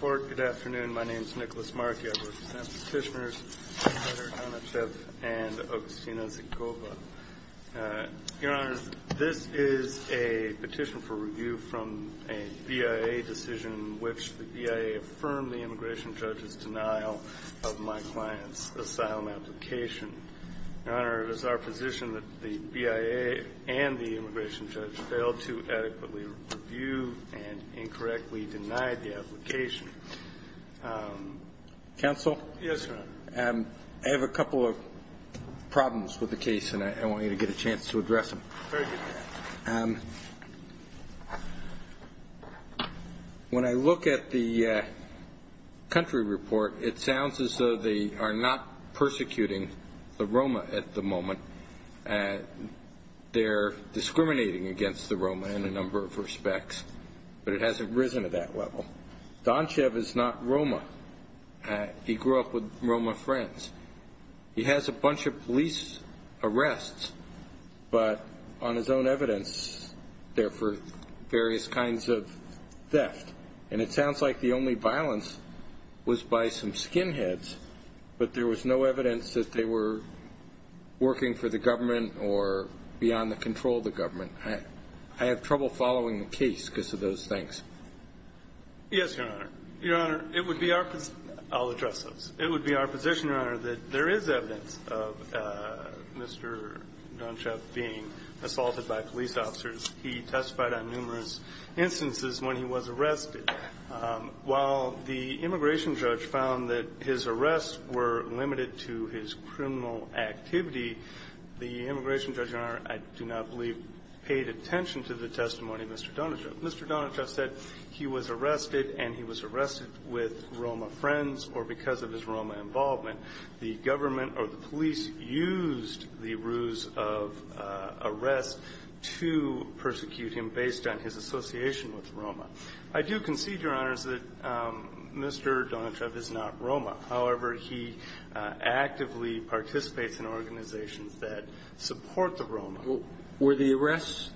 Good afternoon. My name is Nicholas Markey. I represent the Fishmers, Senator Donchev and Augustino Zicoba. Your Honor, this is a petition for review from a BIA decision in which the BIA affirmed the immigration judge's denial of my client's asylum application. Your Honor, it is our position that the BIA and the immigration judge failed to adequately review and incorrectly deny the application. Judge Goldberg Counsel? Augustino Zicoba Yes, Your Honor. Judge Goldberg I have a couple of problems with the case and I want you to get a chance to address them. Augustino Zicoba Very good, Your Honor. Judge Goldberg When I look at the country report, it sounds as though they are not persecuting the Roma at the moment. They're discriminating against the Roma in a number of respects, but it hasn't risen to that level. Donchev is not Roma. He grew up with Roma friends. He has a bunch of police arrests, but on his own evidence, there were various kinds of theft. And it sounds like the only violence was by some skinheads, but there was no evidence that they were working for the government or beyond the control of the government. I have trouble following the case because of those things. Augustino Zicoba Yes, Your Honor. Your Honor, it would be our position... I'll address those. It would be our position, Your Honor, that there is evidence of Mr. Donchev being assaulted by police officers. He testified on numerous instances when he was arrested. While the immigration judge found that his arrests were limited to his criminal activity, the immigration judge, Your Honor, I do not believe paid attention to the testimony of Mr. Donchev. Mr. Donchev said he was arrested and he was arrested with Roma friends or because of his Roma involvement. The government or the police used the ruse of arrest to persecute him based on his association with Roma. I do concede, Your Honor, that Mr. Donchev is not Roma. However, he actively participates in organizations that support the Roma. Were the arrests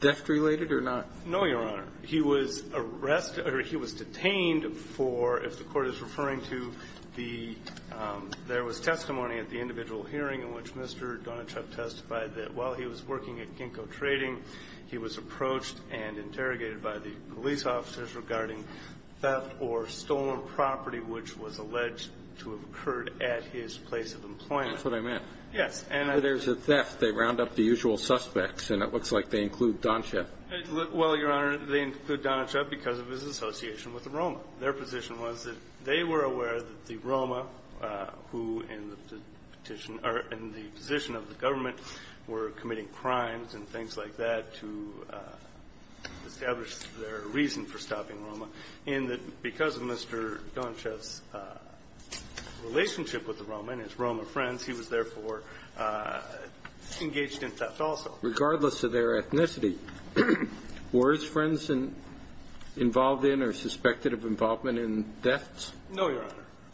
theft-related or not? No, Your Honor. He was arrested or he was detained for, if the Court is referring to the – there was testimony at the individual hearing in which Mr. Donchev testified that while he was working at Ginkgo Trading, he was approached and interrogated by the police officers regarding theft or stolen property which was alleged to have occurred at his place of employment. That's what I meant. So there's a theft. They round up the usual suspects, and it looks like they include Donchev. Well, Your Honor, they include Donchev because of his association with the Roma. Their position was that they were aware that the Roma who in the petition or in the position of the government were committing crimes and things like that to establish their reason for stopping Roma, and that because of Mr. Donchev's relationship with the Roma and his Roma friends, he was therefore engaged in theft also. Regardless of their ethnicity, were his friends involved in or suspected of involvement in thefts? No, Your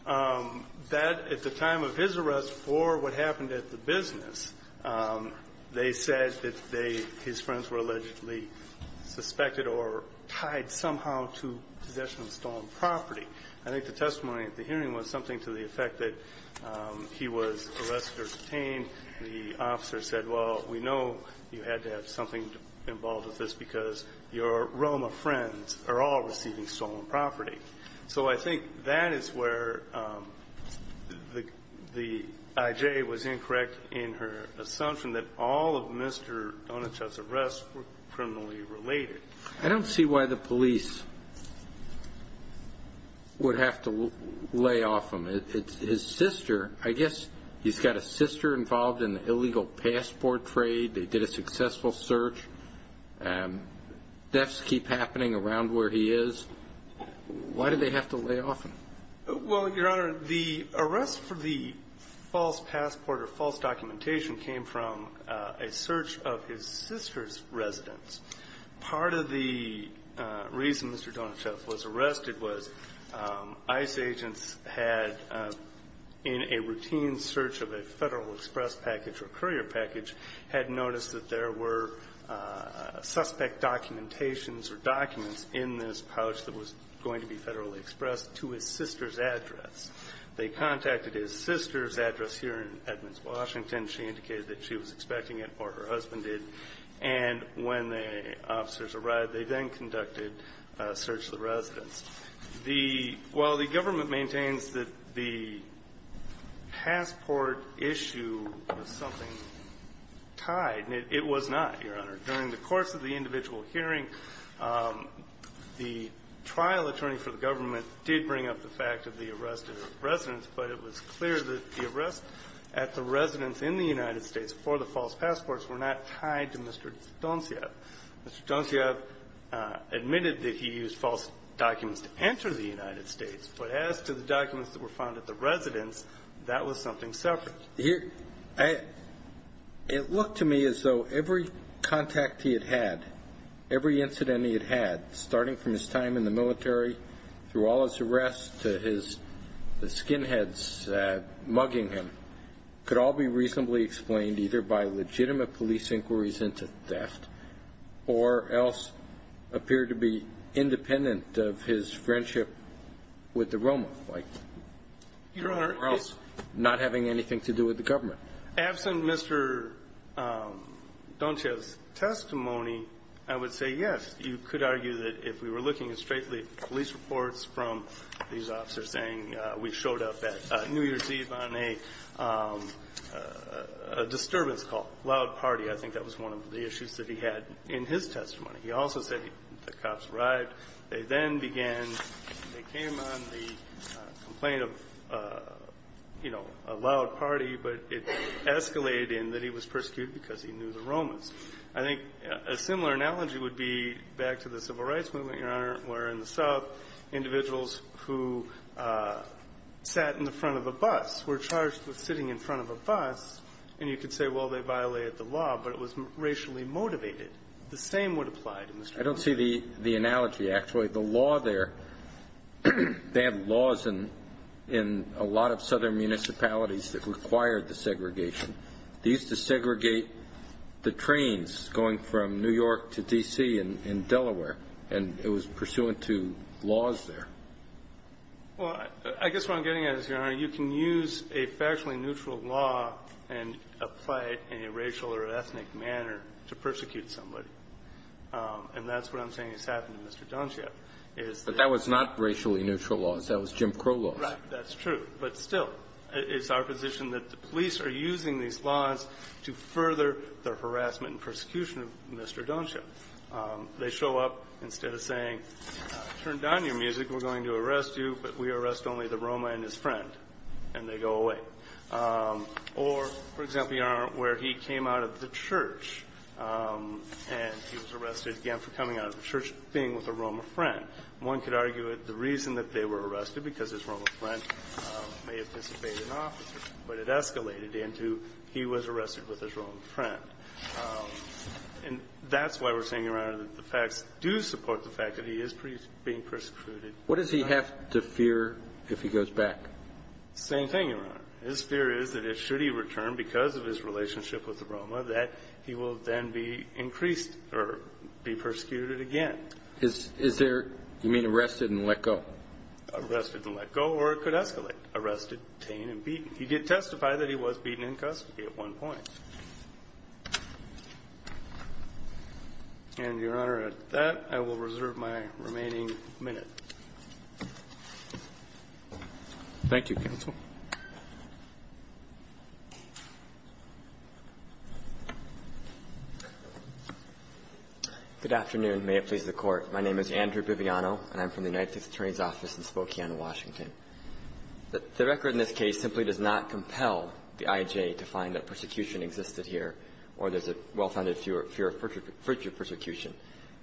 Honor. That, at the time of his arrest for what happened at the business, they said that they – his friends were allegedly suspected or tied somehow to possession of stolen property. I think the testimony at the hearing was something to the effect that he was arrested or detained, the officer said, well, we know you had to have something involved with this because your Roma friends are all receiving stolen property. So I think that is where the I.J. was incorrect in her assumption that all of Mr. Donchev's arrests were criminally related. I don't see why the police would have to lay off him. His sister, I guess he's got a sister involved in the illegal passport trade. They did a successful search. Thefts keep happening around where he is. Why do they have to lay off him? Well, Your Honor, the arrest for the false passport or false documentation came from a search of his sister's residence. Part of the reason Mr. Donchev was arrested was ICE agents had, in a routine search of a Federal Express package or courier package, had noticed that there were suspect documentations or documents in this pouch that was going to be Federally expressed to his sister's address. They contacted his sister's address here in Edmonds, Washington. She indicated that she was expecting it or her husband did. And when the officers arrived, they then conducted a search of the residence. The – while the government maintains that the passport issue was something tied, it was not, Your Honor. During the course of the individual hearing, the trial attorney for the government did bring up the fact of the arrest of his residence, but it was clear that the arrests at the residence in the United States for the false passports were not tied to Mr. Donchev. Mr. Donchev admitted that he used false documents to enter the United States, but as to the documents that were found at the residence, that was something separate. It looked to me as though every contact he had had, every incident he had had, starting from his time in the military through all his arrests to his skinheads mugging him, could all be reasonably explained either by legitimate police inquiries into theft or else appear to be independent of his friendship with the Roma, like Your Honor. Or else not having anything to do with the government. Absent Mr. Donchev's testimony, I would say, yes, you could argue that if we were looking at straight police reports from these officers saying we showed up at New Year's Eve on a disturbance call, loud party, I think that was one of the issues that he had in his testimony. He also said the cops arrived. They then began, they came on the complaint of, you know, a loud party, but it escalated in that he was persecuted because he knew the Romans. I think a similar analogy would be back to the Civil Rights Movement, Your Honor, where in the South, individuals who sat in the front of a bus were charged with sitting in front of a bus, and you could say, well, they violated the law, but it was racially motivated. The same would apply to Mr. Donchev. I don't see the analogy, actually. The law there, they have laws in a lot of southern municipalities that require the segregation. They used to segregate the trains going from New York to D.C. and Delaware, and it was pursuant to laws there. Well, I guess what I'm getting at is, Your Honor, you can use a factually neutral law and apply it in a racial or ethnic manner to persecute somebody. And that's what I'm saying has happened to Mr. Donchev, is that the law was not racially neutral laws. That was Jim Crow laws. That's true. But still, it's our position that the police are using these laws to further their harassment and persecution of Mr. Donchev. They show up instead of saying, turn down your music, we're going to arrest you, but we arrest only the Roma and his friend, and they go away. Or, for example, Your Honor, where he came out of the church, and he was arrested again for coming out of the church, being with a Roma friend. One could argue that the reason that they were arrested, because his Roma friend may have disobeyed an officer, but it escalated into he was arrested with his Roma friend. And that's why we're saying, Your Honor, that the facts do support the fact that he is being persecuted. What does he have to fear if he goes back? Same thing, Your Honor. His fear is that, should he return because of his relationship with the Roma, that he will then be increased or be persecuted again. Is there, you mean arrested and let go? Arrested and let go, or it could escalate. Arrested, detained, and beaten. He did testify that he was beaten in custody at one point. And, Your Honor, at that, I will reserve my remaining minute. Thank you, counsel. Good afternoon. May it please the Court. My name is Andrew Bibiano, and I'm from the United States Attorney's Office in Spokane, Washington. The record in this case simply does not compel the I.J. to find that persecution existed here or there's a well-founded fear of further persecution.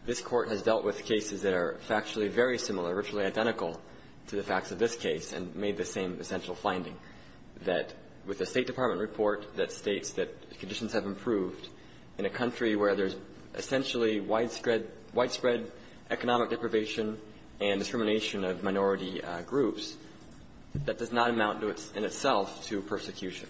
This Court has dealt with cases that are factually very similar, virtually identical to the facts of this case and made the same essential finding, that with the State Department report that states that conditions have improved in a country where there's essentially widespread economic deprivation and discrimination of minority groups, that does not amount in itself to persecution,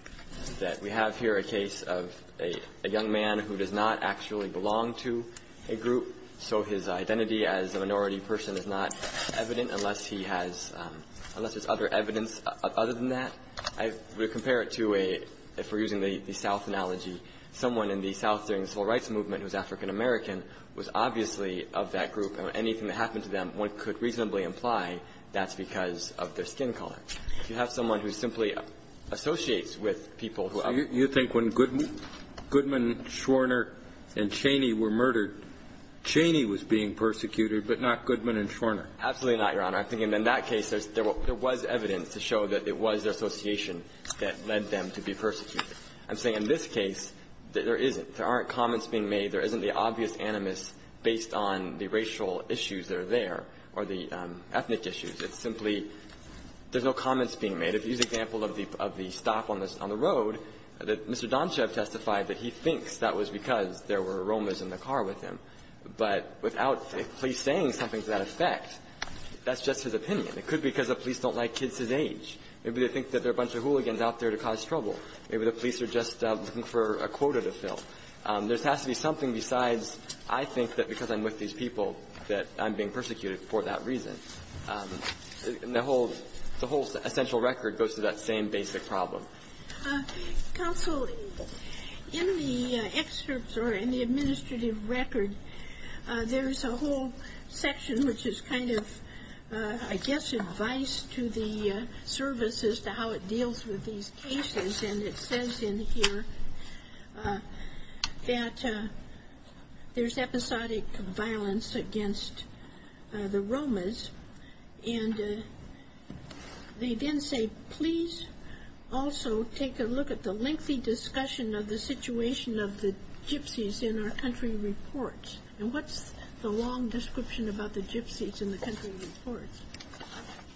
that we have here a case of a young man who does not actually belong to a group, so his identity as a minority person is not evident unless he has – unless there's other evidence other than that. I would compare it to a – if we're using the South analogy, someone in the South during the Civil Rights Movement who's African-American was obviously of that group, and anything that happened to them, one could reasonably imply that's because of their skin color. You have someone who simply associates with people who other than the South. You think when Goodman – Goodman, Schwerner, and Cheney were murdered, Cheney was being persecuted, but not Goodman and Schwerner? Absolutely not, Your Honor. I think in that case, there was evidence to show that it was their association that led them to be persecuted. I'm saying in this case, there isn't. There aren't comments being made. There isn't the obvious animus based on the racial issues that are there or the ethnic issues. It's simply – there's no comments being made. If you use the example of the – of the stop on the road, Mr. Domshev testified that he thinks that was because there were aromas in the car with him. But without a police saying something to that effect, that's just his opinion. It could be because the police don't like kids his age. Maybe they think that there are a bunch of hooligans out there to cause trouble. Maybe the police are just looking for a quota to fill. There has to be something besides, I think that because I'm with these people that I'm being persecuted for that reason. The whole – the whole essential record goes to that same basic problem. Counsel, in the excerpts or in the administrative record, there's a whole section which is kind of, I guess, advice to the services to how it deals with these cases. And it says in here that there's episodic violence against the Romas. And they then say, please also take a look at the lengthy discussion of the situation of the gypsies in our country reports. And what's the long description about the gypsies in the country reports?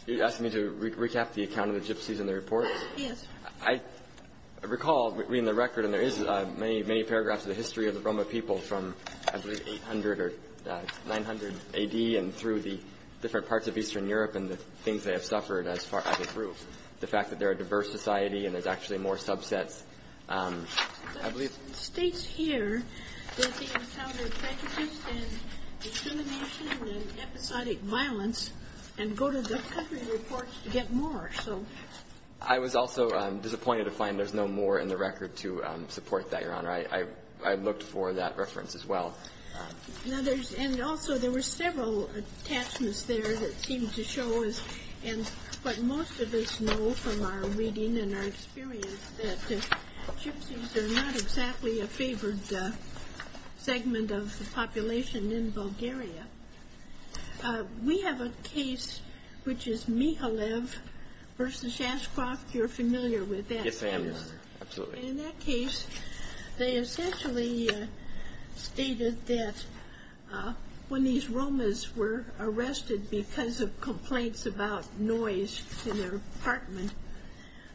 You're asking me to recap the account of the gypsies in the reports? Yes. I recall reading the record, and there is many, many paragraphs of the history of the Roma people from, I believe, 800 or 900 A.D. and through the different parts of Eastern Europe and the things they have suffered as far as the fact that they're a diverse society and there's actually more subsets, I believe. But it states here that they encountered prejudice and discrimination and episodic violence and go to the country reports to get more, so. I was also disappointed to find there's no more in the record to support that, Your Honor. I looked for that reference as well. Now there's, and also there were several attachments there that seemed to show us, and what most of us know from our reading and our experience, that gypsies are not exactly a favored segment of the population in Bulgaria. We have a case which is Mihalev versus Shashcroft. You're familiar with that, Your Honor. Yes, I am, Your Honor. Absolutely. In that case, they essentially stated that when these Romas were arrested because of complaints about noise in their apartment,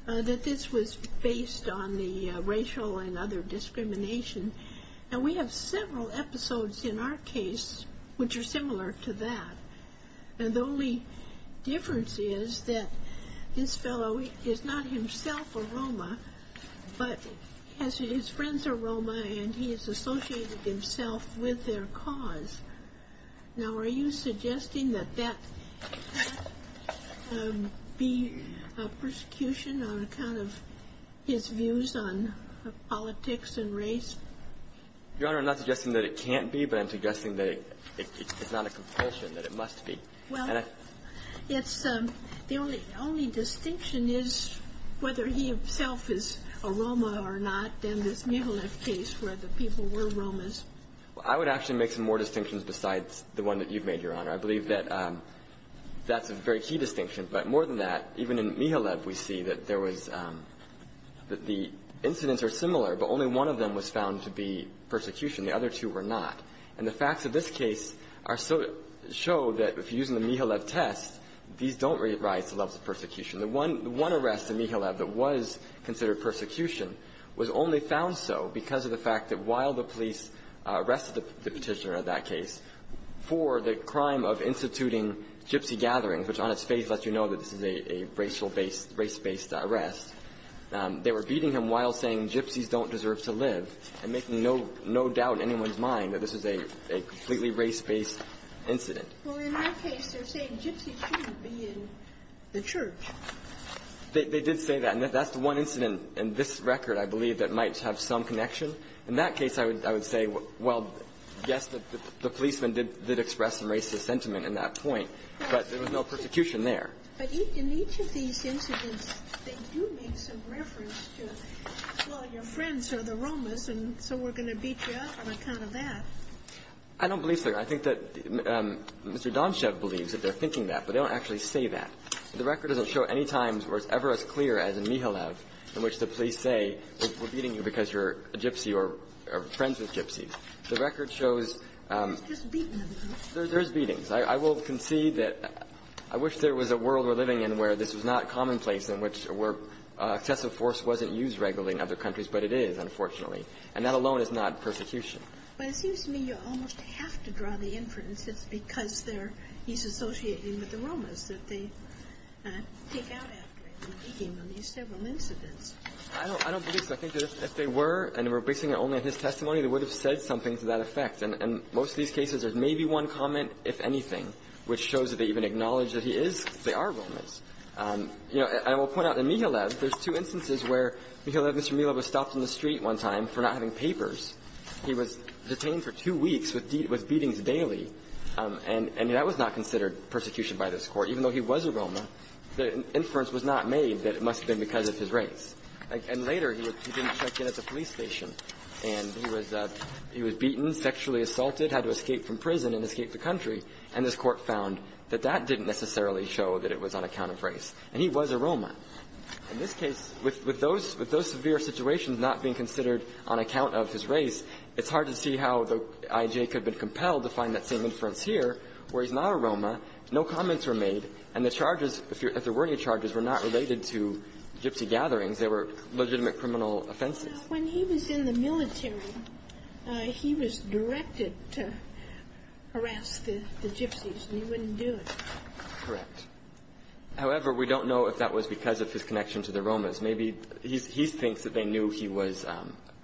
that this was based on the racial and other discrimination. And we have several episodes in our case which are similar to that. And the only difference is that this fellow is not himself a Roma, but he has his friends are Roma and he has associated himself with their cause. Now are you suggesting that that be a persecution on account of his views on politics and race? Your Honor, I'm not suggesting that it can't be, but I'm suggesting that it's not a compulsion, that it must be. Well, it's the only distinction is whether he himself is a Roma or not in this Mihalev case where the people were Romas. I would actually make some more distinctions besides the one that you've made, Your Honor. I believe that that's a very key distinction. But more than that, even in Mihalev, we see that there was the incidents are similar, but only one of them was found to be persecution. The other two were not. And the facts of this case are so to show that if you're using the Mihalev test, these don't rise to the level of persecution. The one arrest in Mihalev that was considered persecution was only found so because of the fact that while the police arrested the Petitioner in that case for the crime of instituting gypsy gatherings, which on its face lets you know that this is a racial based, race-based arrest, they were beating him while saying gypsies don't deserve to live and making no doubt in anyone's mind that this is a completely race-based incident. Well, in that case, they're saying gypsies shouldn't be in the church. They did say that. And that's the one incident in this record, I believe, that might have some connection. In that case, I would say, well, yes, the policemen did express some racist sentiment in that point, but there was no persecution there. But in each of these incidents, they do make some reference to, well, your friends are the Romas, and so we're going to beat you up on account of that. I don't believe so. I think that Mr. Donshev believes that they're thinking that, but they don't actually say that. The record doesn't show any times where it's ever as clear as in Mihalev in which the police say we're beating you because you're a gypsy or friends with gypsies. The record shows there's beatings. I will concede that I wish there was a world we're living in where this was not commonplace in which excessive force wasn't used regularly in other countries, but it is, unfortunately. And that alone is not persecution. But it seems to me you almost have to draw the inference that it's because he's associating with the Romas that they take out after him and beat him in these several incidents. I don't believe so. I think that if they were, and we're basing it only on his testimony, they would have said something to that effect. And in most of these cases, there's maybe one comment, if anything, which shows that they even acknowledge that he is or they are Romas. You know, I will point out in Mihalev, there's two instances where Mihalev, Mr. Mihalev was stopped in the street one time for not having papers. He was detained for two weeks with beatings daily, and that was not considered persecution by this Court, even though he was a Roma. The inference was not made that it must have been because of his race. And later, he didn't check in at the police station, and he was beaten sexually and sexually assaulted, had to escape from prison and escape the country, and this Court found that that didn't necessarily show that it was on account of race, and he was a Roma. In this case, with those severe situations not being considered on account of his race, it's hard to see how the IJ could have been compelled to find that same inference here where he's not a Roma, no comments were made, and the charges, if there were any charges, were not related to Gypsy gatherings. They were legitimate criminal offenses. When he was in the military, he was directed to harass the Gypsies, and he wouldn't do it. Correct. However, we don't know if that was because of his connection to the Romas. Maybe he thinks that they knew he was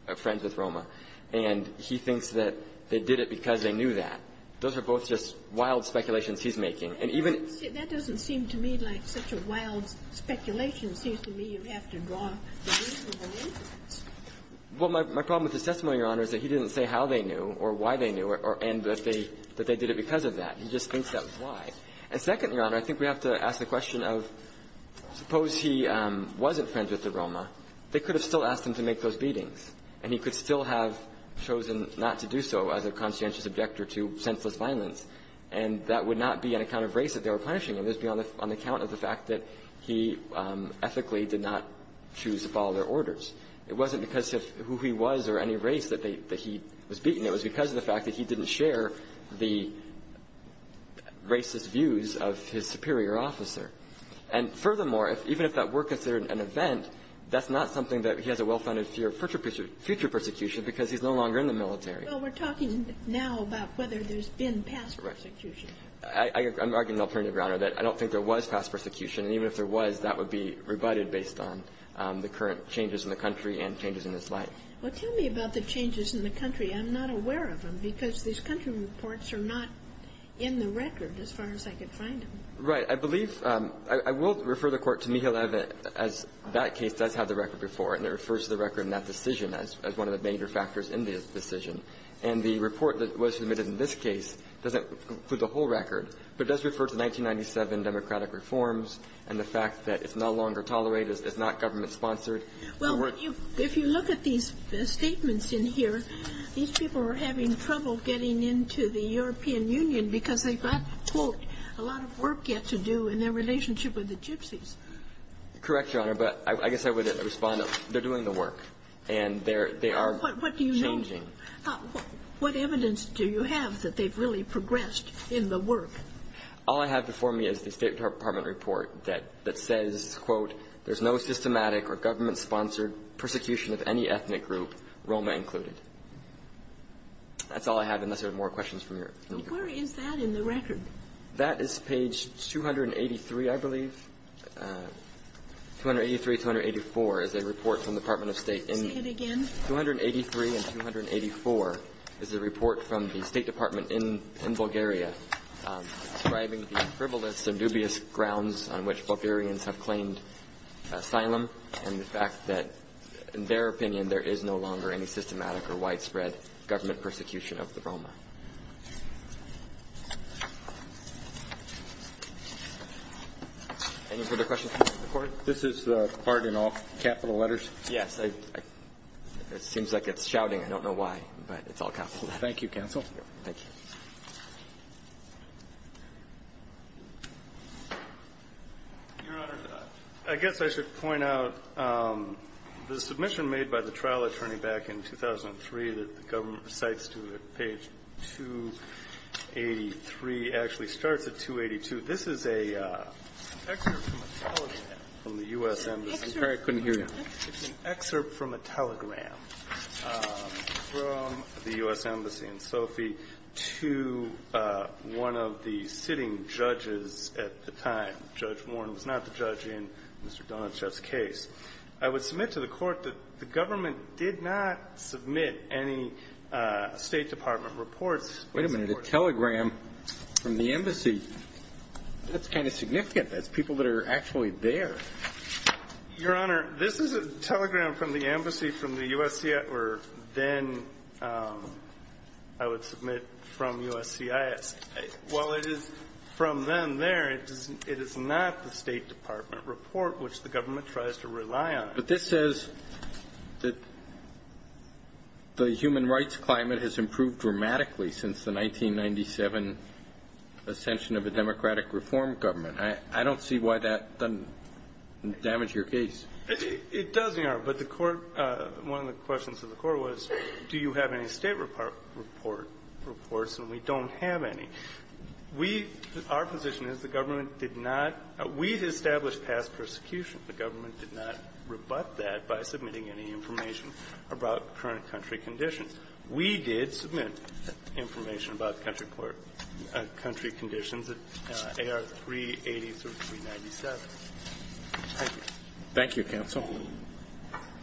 a friend with Roma, and he thinks that they did it because they knew that. Those are both just wild speculations he's making. And even That doesn't seem to me like such a wild speculation. It seems to me you have to draw the reasonable inference. Well, my problem with his testimony, Your Honor, is that he didn't say how they knew or why they knew it or that they did it because of that. He just thinks that was why. And second, Your Honor, I think we have to ask the question of, suppose he wasn't friends with the Roma. They could have still asked him to make those beatings, and he could still have chosen not to do so as a conscientious objector to senseless violence, and that would not be on account of race that they were punishing him. It would be on account of the fact that he ethically did not choose to follow their orders. It wasn't because of who he was or any race that he was beaten. It was because of the fact that he didn't share the racist views of his superior officer. And furthermore, even if that were considered an event, that's not something that he has a well-founded fear of future persecution because he's no longer in the military. Well, we're talking now about whether there's been past persecution. I'm arguing alternatively, Your Honor, that I don't think there was past persecution. And even if there was, that would be rebutted based on the current changes in the country and changes in his life. Well, tell me about the changes in the country. I'm not aware of them because these country reports are not in the record as far as I could find them. Right. I believe – I will refer the Court to Mikhail Evett as that case does have the record before, and it refers to the record in that decision as one of the major factors in the decision. And the report that was submitted in this case doesn't include the whole record, but it does refer to 1997 democratic reforms and the fact that it's no longer tolerated, it's not government-sponsored. Well, if you look at these statements in here, these people are having trouble getting into the European Union because they've got, quote, a lot of work yet to do in their relationship with the Gypsies. Correct, Your Honor, but I guess I would respond that they're doing the work, and they are changing. What evidence do you have that they've really progressed in the work? All I have before me is the State Department report that says, quote, there's no systematic or government-sponsored persecution of any ethnic group, Roma included. That's all I have, unless there are more questions from Your Honor. Where is that in the record? That is page 283, I believe. 283, 284 is a report from the Department of State. Say it again. 283 and 284 is a report from the State Department in Bulgaria describing the frivolous and dubious grounds on which Bulgarians have claimed asylum and the fact that, in their opinion, there is no longer any systematic or widespread government persecution of the Roma. Any further questions before the Court? This is the part in all capital letters? Yes. It seems like it's shouting. I don't know why, but it's all capital letters. Thank you, counsel. Thank you. Your Honor, I guess I should point out the submission made by the trial attorney back in 2003 that the government recites to page 283 actually starts at 282. This is an excerpt from a telegram from the U.S. Embassy. I'm sorry, I couldn't hear you. It's an excerpt from a telegram from the U.S. Embassy in Sofia to one of the sitting judges at the time. Judge Warren was not the judge in Mr. Donachev's case. I would submit to the Court that the government did not submit any State Department reports. Wait a minute, a telegram from the embassy. That's kind of significant. That's people that are actually there. Your Honor, this is a telegram from the embassy from the USCIS, or then I would submit from USCIS. While it is from them there, it is not the State Department report, which the government tries to rely on. But this says that the human rights climate has improved dramatically since the 1997 ascension of a democratic reform government. I don't see why that doesn't damage your case. It does, Your Honor, but the Court, one of the questions of the Court was do you have any State Department reports, and we don't have any. We, our position is the government did not, we established past persecution. The government did not rebut that by submitting any information about current country conditions. We did submit information about country conditions at AR 380 through 397. Thank you. Thank you, counsel.